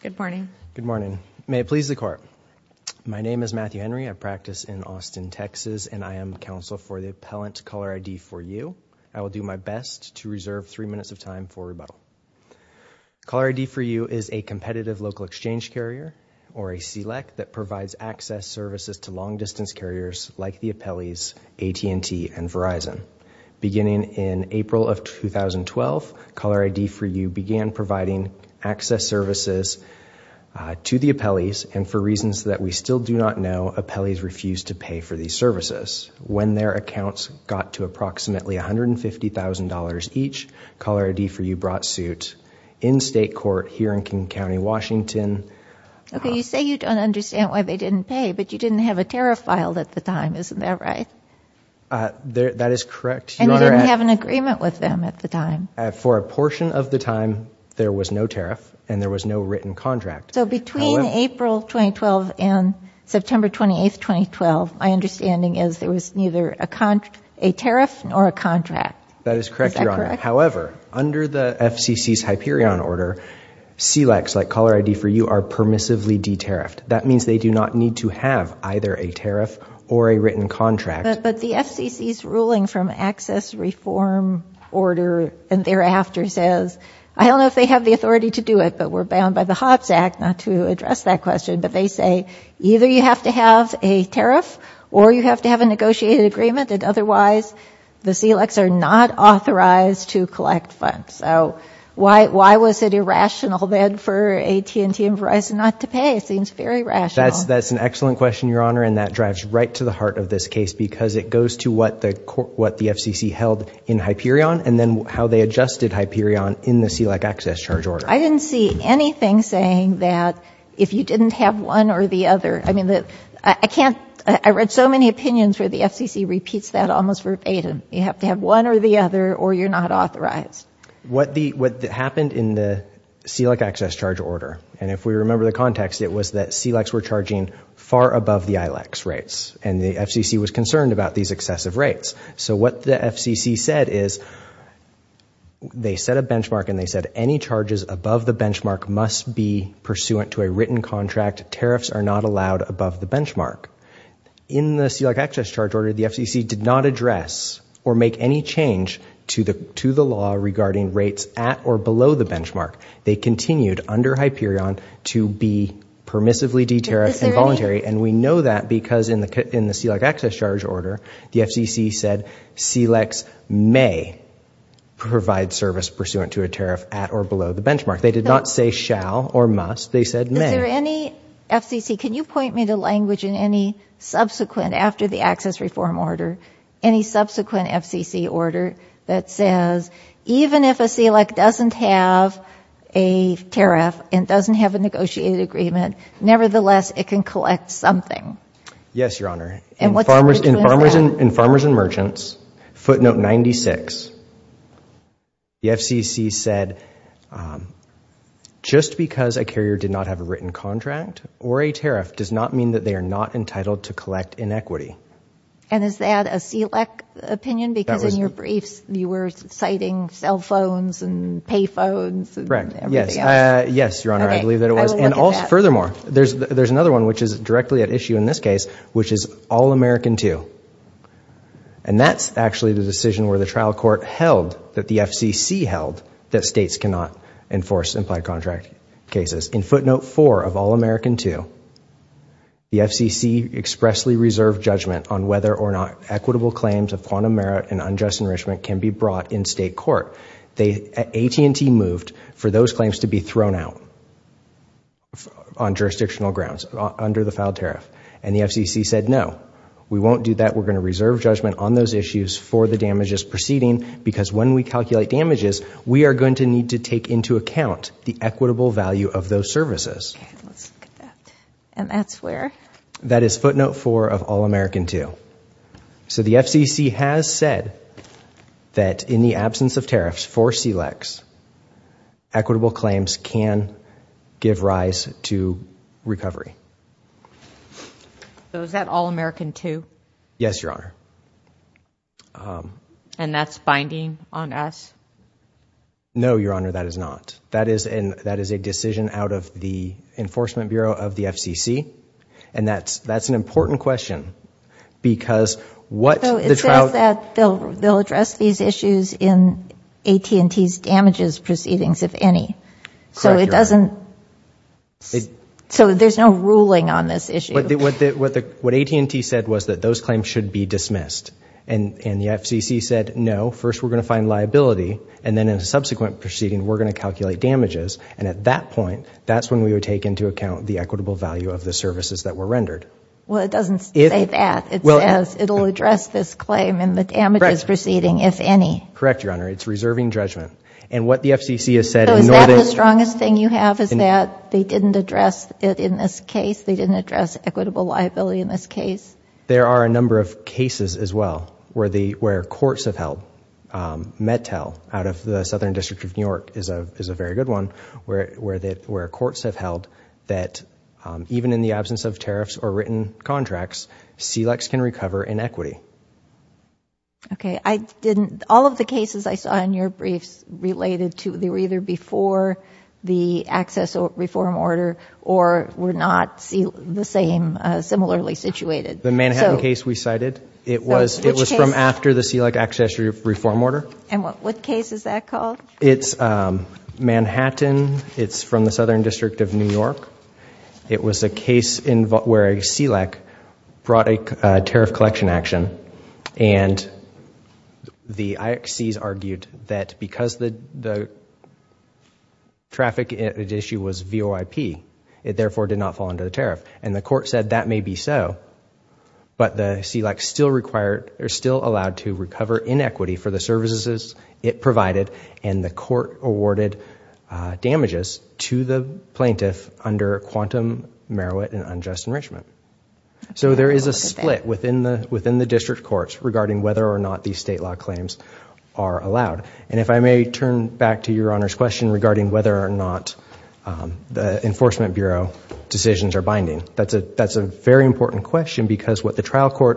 Good morning. May it please the Court. My name is Matthew Henry. I practice in Austin, Texas, and I am counsel for the appellant CallerID4u. I will do my best to reserve three minutes of time for rebuttal. CallerID4u is a competitive local exchange carrier, or a CLEC, that provides access services to long-distance carriers like the appellees AT&T and Verizon. Beginning in August of 2016, CallerID4u brought suit in state court here in King County, Washington. You say you don't understand why they didn't pay, but you didn't have a tariff filed at the time, isn't that right? That is correct. And you didn't have an agreement with them at the time? For a portion of the time, there was no tariff and there was no written contract. So between April 2012 and September 28, 2012, my understanding is there was neither a tariff nor a contract. That is correct, Your Honor. However, under the FCC's Hyperion order, CLECs like CallerID4u are permissively de-tariffed. That means they do not need to have either a tariff or a written contract. But the FCC's ruling from access reform order and thereafter says, I don't know if they have the authority to do it, but we're bound by the Hobbs Act, not to address that question, but they say either you have to have a tariff or you have to have a negotiated agreement and otherwise the CLECs are not authorized to collect funds. So why was it irrational then for AT&T and Verizon not to pay? It seems very rational. That's an excellent question, Your Honor, and that drives right to the heart of this case because it goes to what the FCC held in Hyperion and then how they adjusted Hyperion in the CLEC access charge order. I didn't see anything saying that if you didn't have one or the other. I read so many opinions where the FCC repeats that almost verbatim. You have to have one or the other or you're not authorized. What happened in the CLEC access charge order, and if we remember the context, it was that CLECs were charging far above the ILACs rates and the FCC was concerned about these excessive rates. So what the FCC said is they set a benchmark and they said any charges above the benchmark must be pursuant to a written contract. Tariffs are not allowed above the benchmark. In the CLEC access charge order, the FCC did not address or make any change to the law regarding rates at or below the benchmark. They continued under Hyperion to be permissively deterrent and we know that because in the CLEC access charge order, the FCC said CLECs may provide service pursuant to a tariff at or below the benchmark. They did not say shall or must, they said may. Is there any FCC, can you point me to language in any subsequent, after the access reform order, any subsequent FCC order that says even if a CLEC doesn't have a tariff and doesn't have a Yes, Your Honor. In Farmers and Merchants, footnote 96, the FCC said just because a carrier did not have a written contract or a tariff does not mean that they are not entitled to collect inequity. And is that a CLEC opinion because in your briefs you were citing cell phones and pay phones and everything else? Yes, Your Honor, I believe that it was. And also, furthermore, there's another one which is directly at issue in this case, which is All-American II. And that's actually the decision where the trial court held that the FCC held that states cannot enforce implied contract cases. In footnote 4 of All-American II, the FCC expressly reserved judgment on whether or not equitable claims of quantum merit and unjust enrichment can be brought in state court. AT&T moved for those claims to be thrown out on jurisdictional grounds under the filed tariff. And the FCC said, no, we won't do that. We're going to reserve judgment on those issues for the damages proceeding because when we calculate damages, we are going to need to take into account the equitable value of those services. And that's where? That is footnote 4 of All-American II. So the FCC has said that in the absence of tariffs for CLECs, equitable claims can give rise to recovery. So is that All-American II? Yes, Your Honor. And that's binding on us? No, Your Honor, that is not. That is a decision out of the court. That is an important question because what the trial... So it says that they'll address these issues in AT&T's damages proceedings, if any. Correct, Your Honor. So it doesn't... So there's no ruling on this issue. What AT&T said was that those claims should be dismissed. And the FCC said, no, first we're going to find liability, and then in a subsequent proceeding, we're going to calculate damages. And at that point, that's when we would take into account the equitable value of the services that were rendered. Well, it doesn't say that. It says it'll address this claim and the damages proceeding, if any. Correct, Your Honor. It's reserving judgment. And what the FCC has said... So is that the strongest thing you have is that they didn't address it in this case? They didn't address equitable liability in this case? There are a number of cases as well where courts have held. Mettel, out of the Southern District of New York, is a very good one, where courts have held that even in the absence of tariffs or written contracts, SELACs can recover in equity. Okay. I didn't... All of the cases I saw in your briefs related to... They were either before the access reform order or were not the same, similarly situated. The Manhattan case we cited, it was from after the SELAC access reform order. And what case is that called? It's Manhattan. It's from the Southern District of New York. It was a case where a SELAC brought a tariff collection action, and the IXCs argued that because the traffic issue was VOIP, it therefore did not fall under the tariff. And the court said that may be so, but the SELAC is still allowed to recover in equity for the services it provided, and the court awarded damages to the plaintiff under quantum merit and unjust enrichment. So there is a split within the district courts regarding whether or not these state law claims are allowed. And if I may turn back to your Honor's question regarding whether or not the Enforcement Bureau decisions are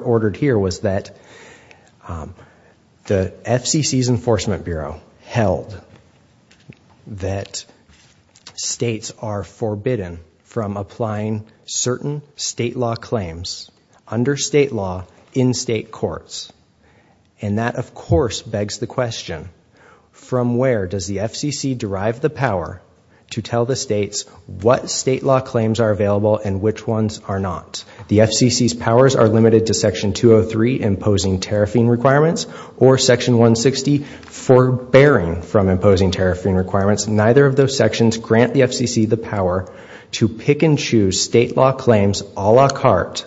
ordered here was that the FCC's Enforcement Bureau held that states are forbidden from applying certain state law claims under state law in state courts. And that of course begs the question, from where does the FCC derive the power to tell the states what state law claims are allowed under state law? Does the FCC have the power to tell the states whether Section 203 imposing tariffing requirements or Section 160 forbearing from imposing tariffing requirements? Neither of those sections grant the FCC the power to pick and choose state law claims a la carte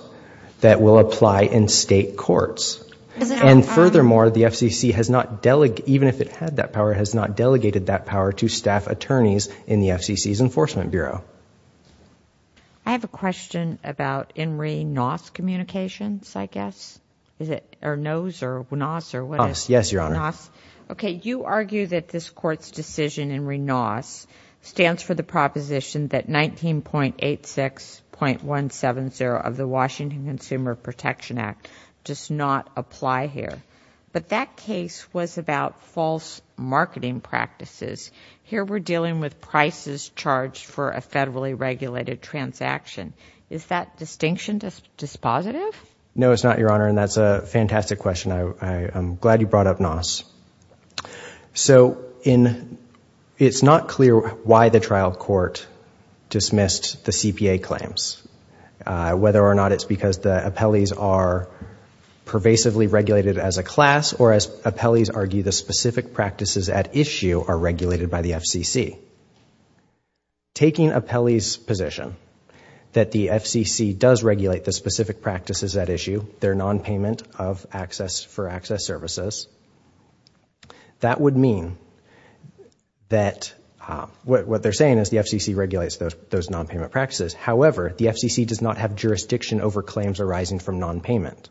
that will apply in state courts. And furthermore, the FCC has not, even if it had that power, has not delegated that power to the state courts. Okay. You argue that this Court's decision in RENOS stands for the proposition that 19.86.170 of the Washington Consumer Protection Act does not apply here. But that case was about false marketing practices. Here we're dealing with prices charged for a federally regulated transaction. Is that distinction dispositive? No, it's not, Your Honor, and that's a fantastic question. I'm glad you brought up NOS. So it's not clear why the trial court dismissed the CPA claims, whether or not it's because the appellees are pervasively regulated as a class or as appellees argue the specific practices at issue are regulated by the FCC. Taking appellees' position that the FCC does not have the power to impose tariffing requirements under state law, the FCC does regulate the specific practices at issue, their non-payment of access for access services. That would mean that what they're saying is the FCC regulates those non-payment practices. However, the FCC does not have jurisdiction over claims arising from non-payment.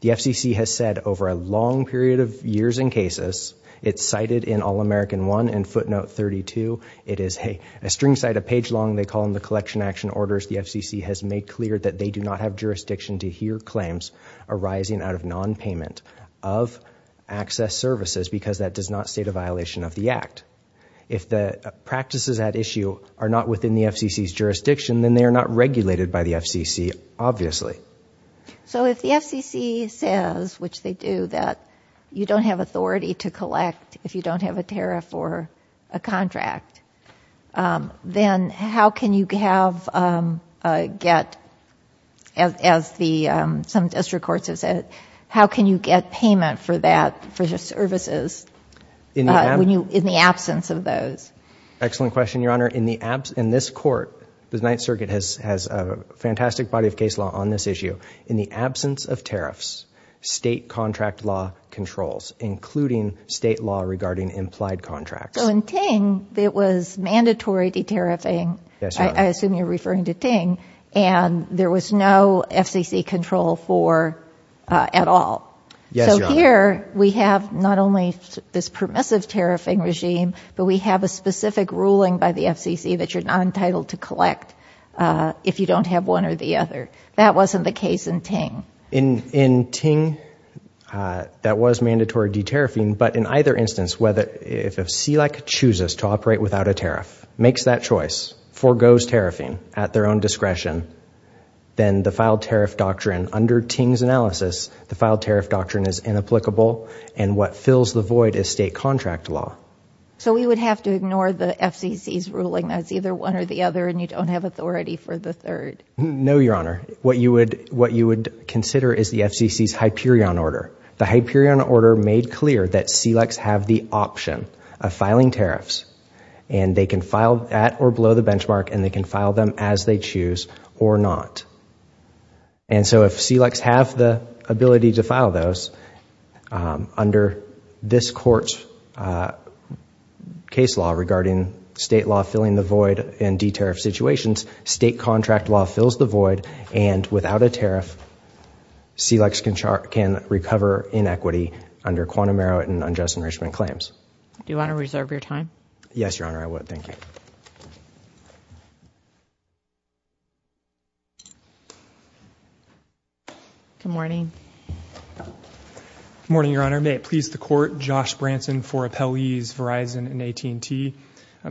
The FCC has said over a long period of years in cases, it's cited in All-American 1 and footnote 32, it is a string site a page long, they call them the collection action orders. The FCC has made clear that they do not have jurisdiction to hear claims arising out of non-payment of access services because that does not state a violation of the act. If the practices at issue are not within the FCC's jurisdiction, then they are not regulated by the FCC, obviously. So if the FCC says, which they do, that you don't have authority to collect if you don't have a tariff or a contract, then how can you have, get, as some district courts have said, how can you get payment for that, for services, in the absence of those? Excellent question, Your Honor. In this court, the Ninth Circuit has a fantastic body of case law on this issue. In the absence of tariffs, state contract law controls, including state law regarding implied contracts. So in Ting, it was mandatory de-tariffing, I assume you're referring to Ting, and there was no FCC control for, at all. So here, we have not only this permissive tariffing regime, but we have a specific ruling by the FCC that you're not entitled to collect if you don't have one or the other. That wasn't the case in Ting. In Ting, that was mandatory de-tariffing, but in either instance, whether, if a C-like contract was required or not, it was mandatory de-tariffing, if a C-like contract chooses to operate without a tariff, makes that choice, foregoes tariffing at their own discretion, then the filed tariff doctrine, under Ting's analysis, the filed tariff doctrine is inapplicable, and what fills the void is state contract law. So we would have to ignore the FCC's ruling that it's either one or the other and you don't have authority for the third? No, Your Honor. What you would consider is the FCC's Hyperion order. The Hyperion order made clear that C-likes have the ability to file de-tariffs and they can file at or below the benchmark and they can file them as they choose or not. And so if C-likes have the ability to file those, under this court's case law regarding state law filling the void and de-tariff situations, state contract law fills the void and without a tariff, C-likes can recover inequity under the Quantum Merit and Unjust Enrichment Claims. Do you want to reserve your time? Yes, Your Honor, I would. Thank you. Good morning. Good morning, Your Honor. May it please the Court, Josh Branson for Appellees Verizon and AT&T.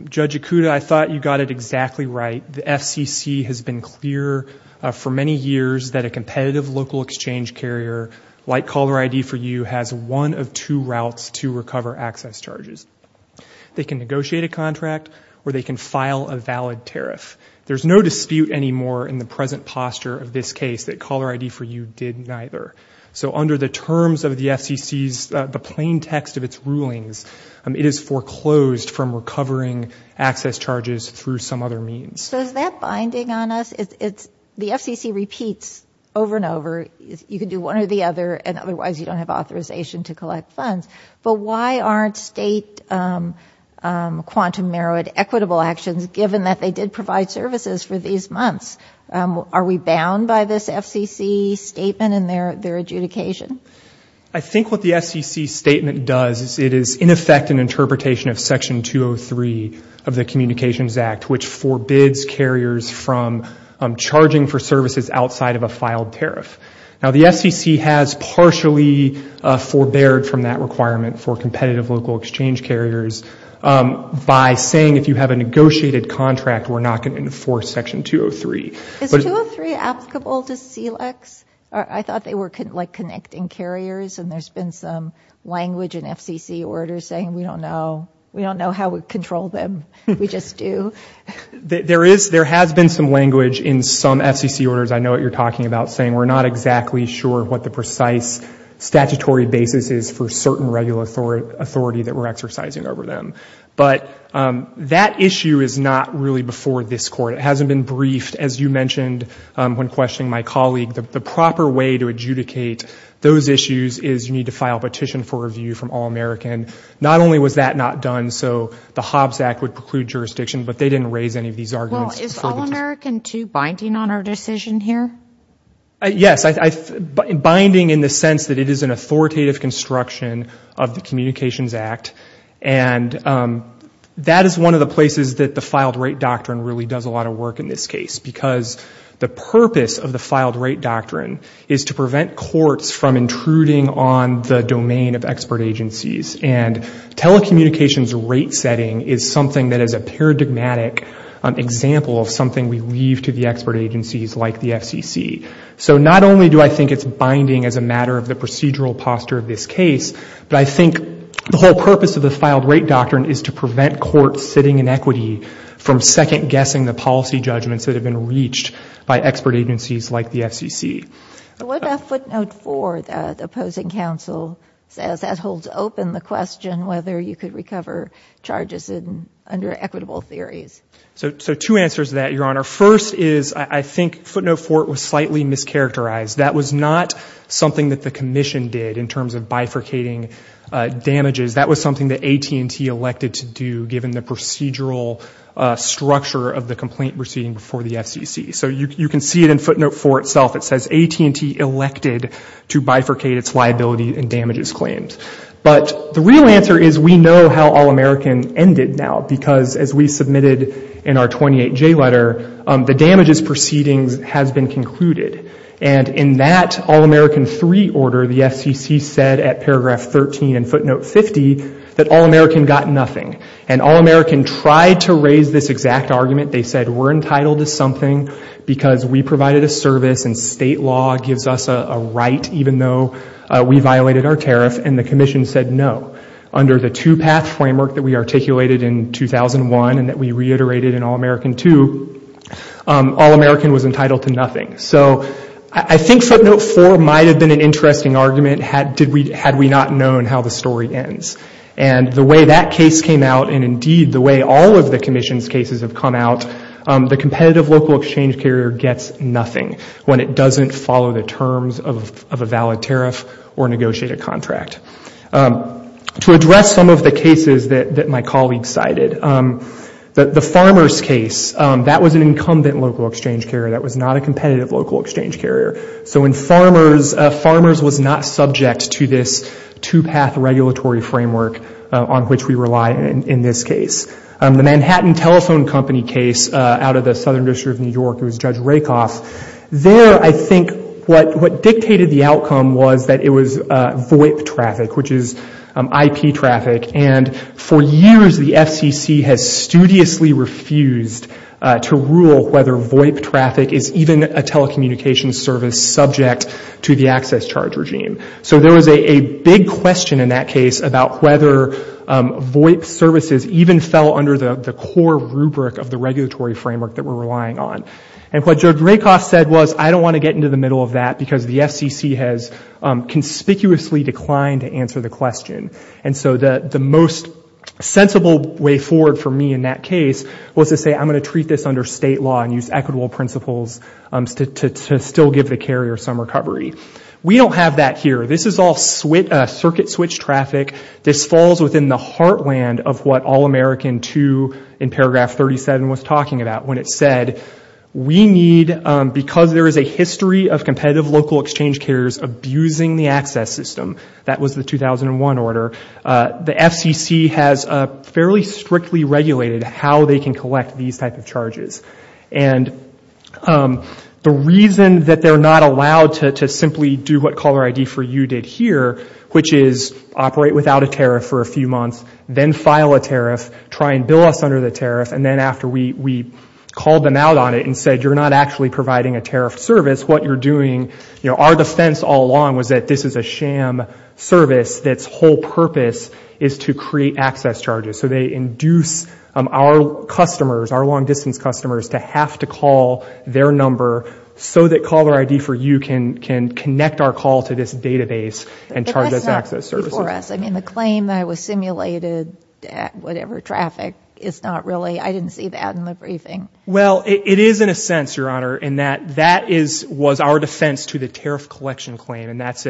Judge Ikuda, I thought you got it exactly right. The FCC has been clear for many years that a competitive local exchange carrier like CallerID4U has one of two routes to recover access charges. They can negotiate a contract or they can file a valid tariff. There's no dispute anymore in the present posture of this case that CallerID4U did neither. So under the terms of the FCC's, the plain text of its rulings, it is foreclosed from recovering access charges through some other means. So is that binding on us? The FCC repeats over and over, you can do one or the other, and otherwise you don't have authorization to collect funds. But why aren't state quantum merit equitable actions given that they did provide services for these months? Are we bound by this FCC statement in their adjudication? I think what the FCC statement does is it is in effect an interpretation of Section 203 of the Communications Act, which forbids carriers from charging for services outside of a filed tariff. Now the FCC has partially forbeared from that requirement for competitive local exchange carriers by saying if you have a negotiated contract, we're not going to enforce Section 203. Is 203 applicable to CLEX? I thought they were like connecting carriers and there's been some language in FCC orders saying we don't know. We don't know how we control them. We just do. There has been some language in some FCC orders, I know what you're talking about, saying we're not exactly sure what the precise statutory basis is for certain regular authority that we're exercising over them. But that issue is not really before this Court. It hasn't been briefed. As you mentioned when questioning my colleague, the proper way to adjudicate those issues is you need to file a petition for review from All-American. Not only was that not done, so the Hobbs Act would preclude jurisdiction, but they didn't raise any of these arguments. Well, is All-American 2 binding on our decision here? Yes, binding in the sense that it is an authoritative construction of the Communications Act. And that is one of the places that the filed rate doctrine really does a lot of work in this case. Because the purpose of the filed rate doctrine is to prevent courts from intruding on the domain of expert agencies. And telecommunications rate setting is something that is a paradigmatic example of something we leave to the expert agencies like the FCC. So not only do I think it's binding as a matter of the procedural posture of this case, but I think the whole purpose of the filed rate doctrine is to prevent courts sitting in equity from second-guessing the policy judgments that have been reached by expert agencies like the FCC. What about footnote 4, the opposing counsel, as that holds open the question whether you could recover charges under equitable theories? So two answers to that, Your Honor. First is I think footnote 4 was slightly mischaracterized. That was not something that the commission did in terms of bifurcating damages. That was something that AT&T elected to do given the procedural structure of the complaint proceeding before the FCC. So you can see it in footnote 4 itself. It says AT&T elected to bifurcate its liability and damages claims. But the real answer is we know how All-American ended now, because as we submitted in our 28J letter, the damages proceedings has been concluded. And in that All-American 3 order, the FCC said at paragraph 13 in footnote 50 that All-American got nothing. And All-American tried to raise this exact argument. They said we're entitled to something. We're entitled to nothing because we provided a service and state law gives us a right, even though we violated our tariff. And the commission said no. Under the two-path framework that we articulated in 2001 and that we reiterated in All-American 2, All-American was entitled to nothing. So I think footnote 4 might have been an interesting argument had we not known how the story ends. And the way that case came out and indeed the way all of the commission's cases have come out, the competitive local exchange carrier gets nothing when it doesn't follow the terms of a valid tariff or negotiated contract. To address some of the cases that my colleague cited, the farmers case, that was an incumbent local exchange carrier. That was not a competitive local exchange carrier. So in farmers, farmers was not subject to this two-path regulatory framework on which we rely in this case. The Manhattan Telephone Company case out of the Southern District of New York, it was Judge Rakoff. There I think what dictated the outcome was that it was VOIP traffic, which is IP traffic. And for years the FCC has studiously refused to rule whether VOIP traffic is even a telecommunications service. It was subject to the access charge regime. So there was a big question in that case about whether VOIP services even fell under the core rubric of the regulatory framework that we're relying on. And what Judge Rakoff said was, I don't want to get into the middle of that because the FCC has conspicuously declined to answer the question. And so the most sensible way forward for me in that case was to say, I'm going to treat this under state law and use equitable principles to still give the case. And I'm going to give the carrier some recovery. We don't have that here. This is all circuit switch traffic. This falls within the heartland of what All-American 2 in paragraph 37 was talking about when it said, we need, because there is a history of competitive local exchange carriers abusing the access system, that was the 2001 order, the FCC has fairly strictly regulated how they can collect these type of charges. And the reason that they're not allowed to simply do what CallerID4U did here, which is operate without a tariff for a few months, then file a tariff, try and bill us under the tariff, and then after we called them out on it and said, you're not actually providing a tariff service, what you're doing, our defense all along was that this is a sham service that's whole purpose is to create access charges. So they induce our customers, our long-distance customers, to have to call their number so that CallerID4U can connect our call to this database and charge us access services. But that's not before us. I mean, the claim that it was simulated at whatever traffic is not really, I didn't see that in the briefing. Well, it is in a sense, Your Honor, in that that was our defense to the tariff collection claim. And that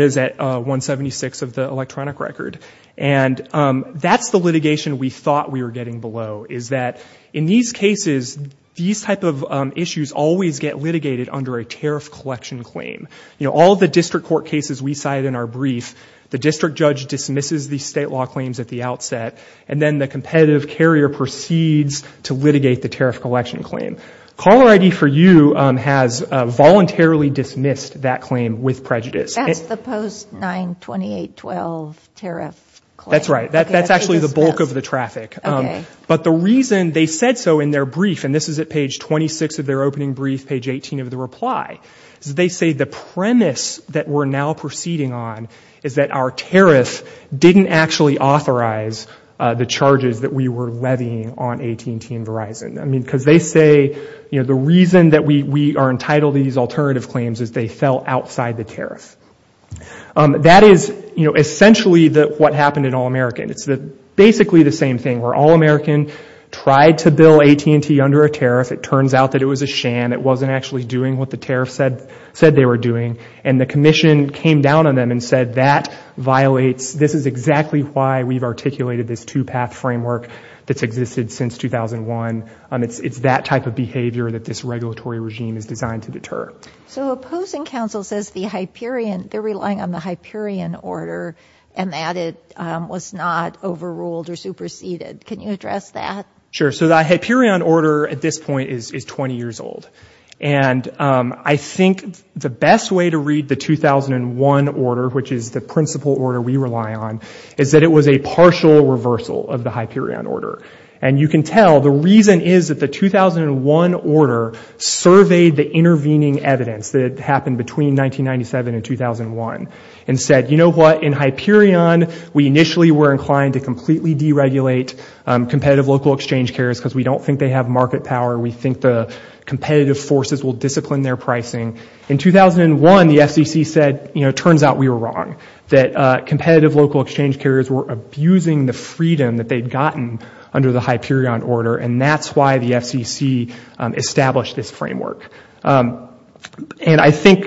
is at 176 of the electronic record. So that's the litigation we thought we were getting below, is that in these cases, these type of issues always get litigated under a tariff collection claim. You know, all the district court cases we cited in our brief, the district judge dismisses the state law claims at the outset, and then the competitive carrier proceeds to litigate the tariff collection claim. CallerID4U has voluntarily dismissed that claim with prejudice. That's the post-92812 tariff claim? All right. All right. All right. All right. All right. So that's actually the bulk of the traffic. But the reason they said so in their brief, and this is at page 26 of their opening brief, page 18 of the reply, they say the premise that we're now proceeding on is that our tariff didn't actually authorize the charges that we were levying on AT&T and Verizon. I mean, because they say, you know, the reason that we are entitled to these alternative claims is they fell outside the tariff. That is, you know, essentially what happened in All-American. It's basically the same thing where All-American tried to bill AT&T under a tariff. It turns out that it was a sham. It wasn't actually doing what the tariff said they were doing. And the commission came down on them and said that violates, this is exactly why we've articulated this two-path framework that's existed since 2001. It's that type of behavior that this regulatory regime is designed to deter. So opposing counsel says the Hyperion, they're relying on the Hyperion order and that it was not overruled or superseded. Can you address that? Sure. So the Hyperion order at this point is 20 years old. And I think the best way to read the 2001 order, which is the principal order we rely on, is that it was a partial reversal of the Hyperion order. And you can tell, the reason is that the 2001 order surveyed the intervening evidence that happened between 1997 and 2001. And said, you know what, in Hyperion, we initially were inclined to completely deregulate competitive local exchange carriers because we don't think they have market power. We think the competitive forces will discipline their pricing. In 2001, the FCC said, you know, turns out we were wrong. That competitive local exchange carriers were abusing the freedom that they'd gotten under the Hyperion order. And that's why the FCC established this framework. And I think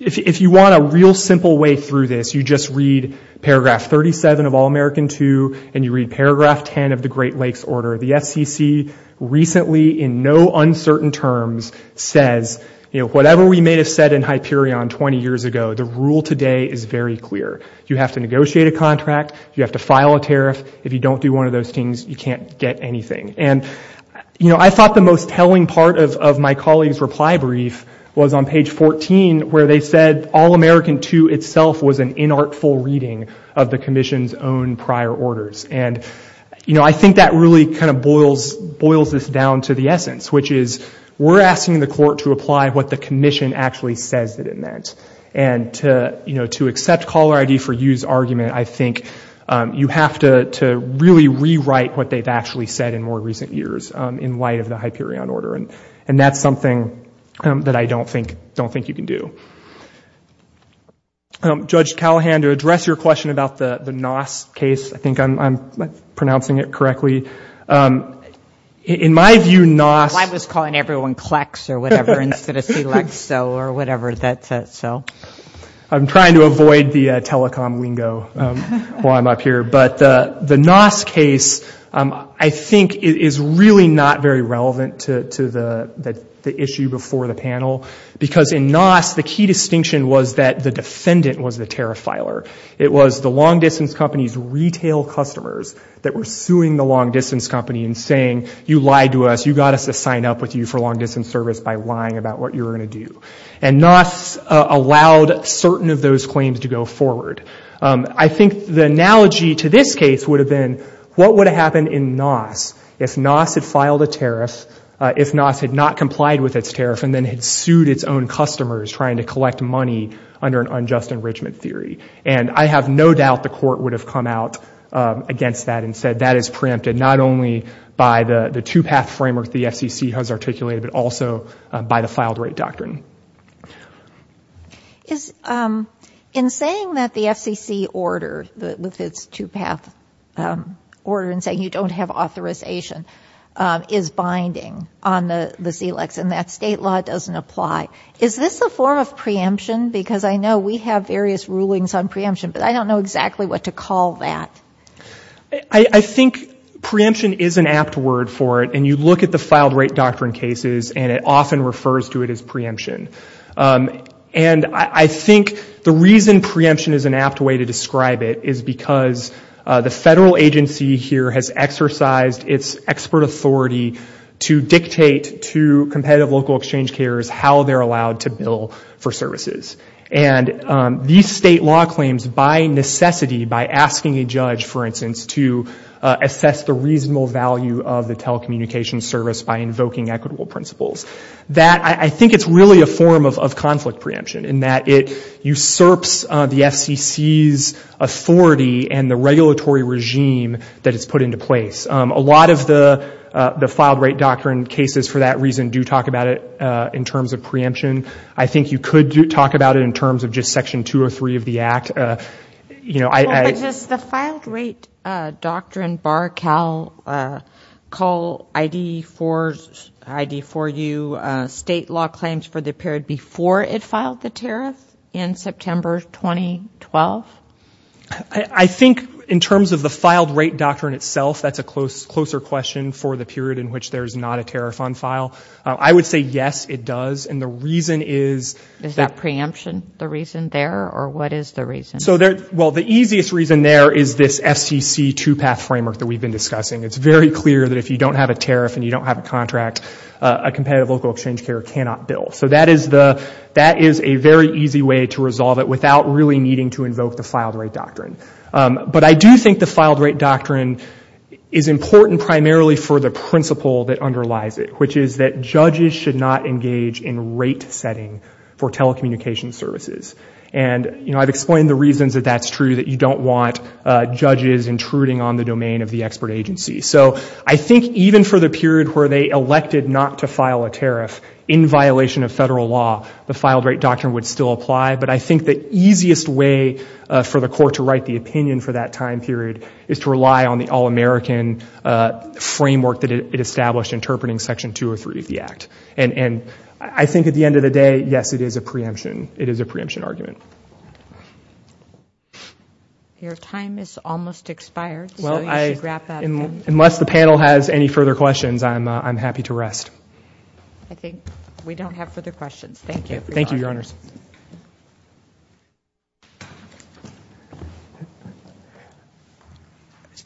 if you want a real simple way through this, you just read paragraph 37 of All-American II and you read paragraph 10 of the Great Lakes Order. The FCC recently, in no uncertain terms, says, you know, whatever we may have said in Hyperion 20 years ago, the rule today is very clear. You have to negotiate a contract. You have to file a tariff. If you don't do one of those things, you can't get anything. And, you know, I thought the most telling part of my colleague's reply brief was on page 14, where they said All-American II itself was an inartful reading of the Commission's own prior orders. And, you know, I think that really kind of boils this down to the essence, which is we're asking the court to apply what the Commission actually says that it meant. And to, you know, to accept caller ID for use argument, I think you have to really rewrite what they've actually said in more recent years in light of the Hyperion order. And that's something that I don't think you can do. Judge Callahan, to address your question about the NOS case, I think I'm pronouncing it correctly. In my view, NOS- I was calling everyone Klecks or whatever instead of Clexo or whatever. I'm trying to avoid the telecom lingo while I'm up here. But the NOS case, I think, is really not very relevant to the issue before the panel. Because in NOS, the key distinction was that the defendant was the tariff filer. It was the long-distance company's retail customers that were suing the long-distance company and saying, you lied to us, you got us to sign up with you for long-distance service by lying about what you were going to do. And NOS allowed certain of those claims to go forward. I think the analogy to this case would have been, what would have happened in NOS if NOS had filed a tariff, if NOS had not complied with its tariff and then had sued its own customers trying to collect money under an unjust enrichment theory? And I have no doubt the court would have come out against that and said, that is preempted not only by the two-path framework the FCC has articulated, but also by the filed rate doctrine. In saying that the FCC order, with its two-path order, and saying you don't have authorization, is binding on the Zlex and that state law doesn't apply, is this a form of preemption? Because I know we have various rulings on preemption, but I don't know exactly what to call that. I think preemption is an apt word for it. And you look at the filed rate doctrine cases and it often refers to it as preemption. And I think the reason preemption is an apt way to describe it is because the federal agency here has exercised its expert authority to dictate to competitive local exchange carriers how they're allowed to bill for services. And these state law claims, by necessity, by asking a judge, for instance, to assess the reasonable value of the telecommunications service by invoking equitable principles, that I think it's really a form of conflict preemption in that it usurps the FCC's authority and the regulatory regime that it's put into place. A lot of the filed rate doctrine cases, for that reason, do talk about it in terms of preemption. I think you could talk about it in terms of just Section 203 of the Act. You know, I — Well, but does the filed rate doctrine, bar CAL, call ID4U state law claims for the period before it filed the tariff in September 2012? I think in terms of the filed rate doctrine itself, that's a closer question for the period in which there's not a tariff on file. I would say, yes, it does. And the reason is — Is that preemption the reason there, or what is the reason? Well, the easiest reason there is this FCC two-path framework that we've been discussing. It's very clear that if you don't have a tariff and you don't have a contract, a competitive local exchange carrier cannot bill. So that is the — that is a very easy way to resolve it without really needing to invoke the filed rate doctrine. But I do think the filed rate doctrine is important primarily for the principle that underlies it, which is that judges should not engage in rate setting for telecommunications services. And, you know, I've explained the reasons that that's true, that you don't want judges intruding on the domain of the expert agency. So I think even for the period where they elected not to file a tariff in violation of federal law, the filed rate doctrine would still apply. But I think the easiest way for the court to write the opinion for that time period is to rely on the all-American framework that it established interpreting Section 203 of the Act. And I think at the end of the day, yes, it is a preemption. It is a preemption argument. Thank you. Your time is almost expired, so you should wrap up. Unless the panel has any further questions, I'm happy to rest. I think we don't have further questions. Thank you. Thank you, Your Honors.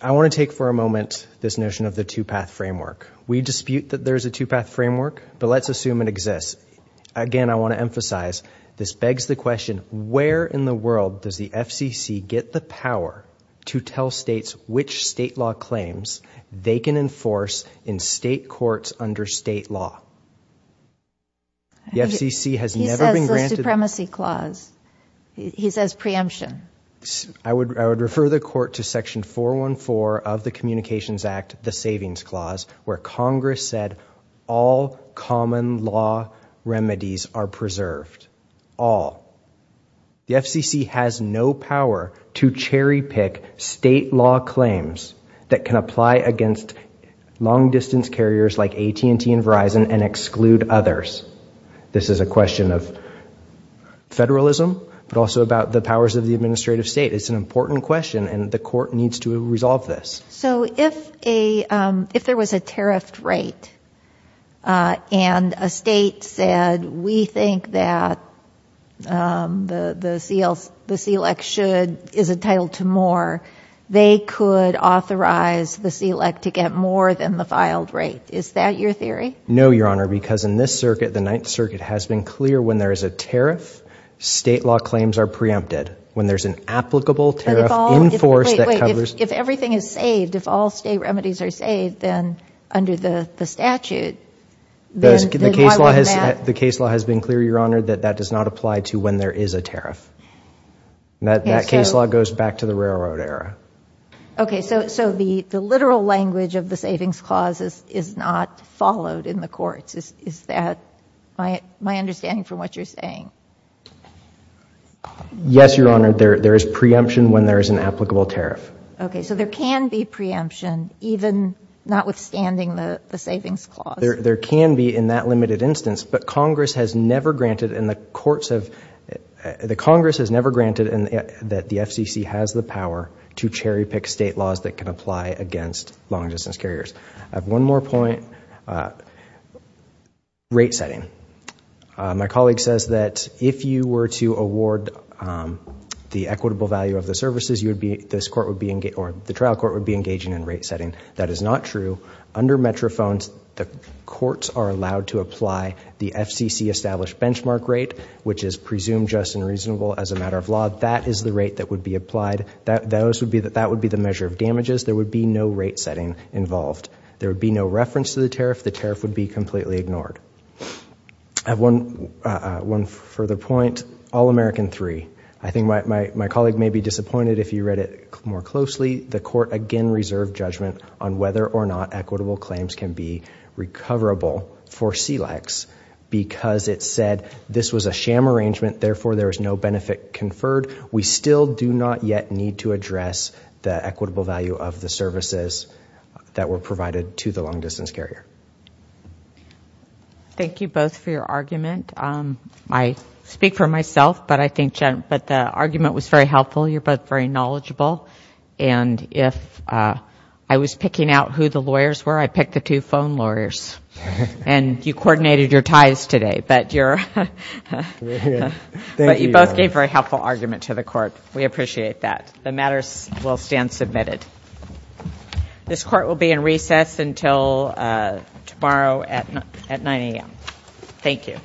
I want to take for a moment this notion of the two-path framework. We dispute that there is a two-path framework, but let's assume it exists. Again, I want to emphasize, this begs the question, where in the world does the FCC get the power to tell states which state law claims they can enforce in state courts under state law? He says the supremacy clause. He says preemption. I would refer the court to Section 414 of the Communications Act, the Savings Clause, where Congress said all common law remedies are preserved. All. The FCC has no power to cherry-pick state law claims that can apply against long-distance carriers like AT&T and Verizon and exclude others. This is a question of federalism, but also about the powers of the administrative state. It's an important question, and the court needs to resolve this. So if there was a tariffed rate and a state said, we think that the SELEC is entitled to more, they could authorize the SELEC to get more than the filed rate. Is that your theory? No, Your Honor, because in this circuit, the Ninth Circuit, has been clear when there is a tariff, state law claims are preempted. When there's an applicable tariff enforced that covers— Wait, wait. If everything is saved, if all state remedies are saved, then under the statute— The case law has been clear, Your Honor, that that does not apply to when there is a tariff. That case law goes back to the railroad era. Okay, so the literal language of the savings clause is not followed in the courts. Is that my understanding from what you're saying? Yes, Your Honor. There is preemption when there is an applicable tariff. Okay, so there can be preemption, even notwithstanding the savings clause. There can be in that limited instance, but Congress has never granted, and the courts have—the Congress has never granted that the FCC has the power to cherry-pick state laws that can apply against long-distance carriers. I have one more point. Rate setting. My colleague says that if you were to award the equitable value of the services, this court would be—or the trial court would be engaging in rate setting. That is not true. Under Metrophones, the courts are allowed to apply the FCC-established benchmark rate, which is presumed just and reasonable as a matter of law. That is the rate that would be applied. That would be the measure of damages. There would be no rate setting involved. There would be no reference to the tariff. The tariff would be completely ignored. I have one further point. All-American III. I think my colleague may be disappointed if you read it more closely. The court again reserved judgment on whether or not equitable claims can be recoverable for CLEX because it said this was a sham arrangement, therefore there is no benefit conferred. We still do not yet need to address the equitable value of the services that were provided to the long-distance carrier. Thank you both for your argument. I speak for myself, but I think the argument was very helpful. You're both very knowledgeable. And if I was picking out who the lawyers were, I'd pick the two phone lawyers. And you coordinated your ties today. But you both gave a very helpful argument to the court. We appreciate that. The matter will stand submitted. This court will be in recess until tomorrow at 9 a.m. Thank you.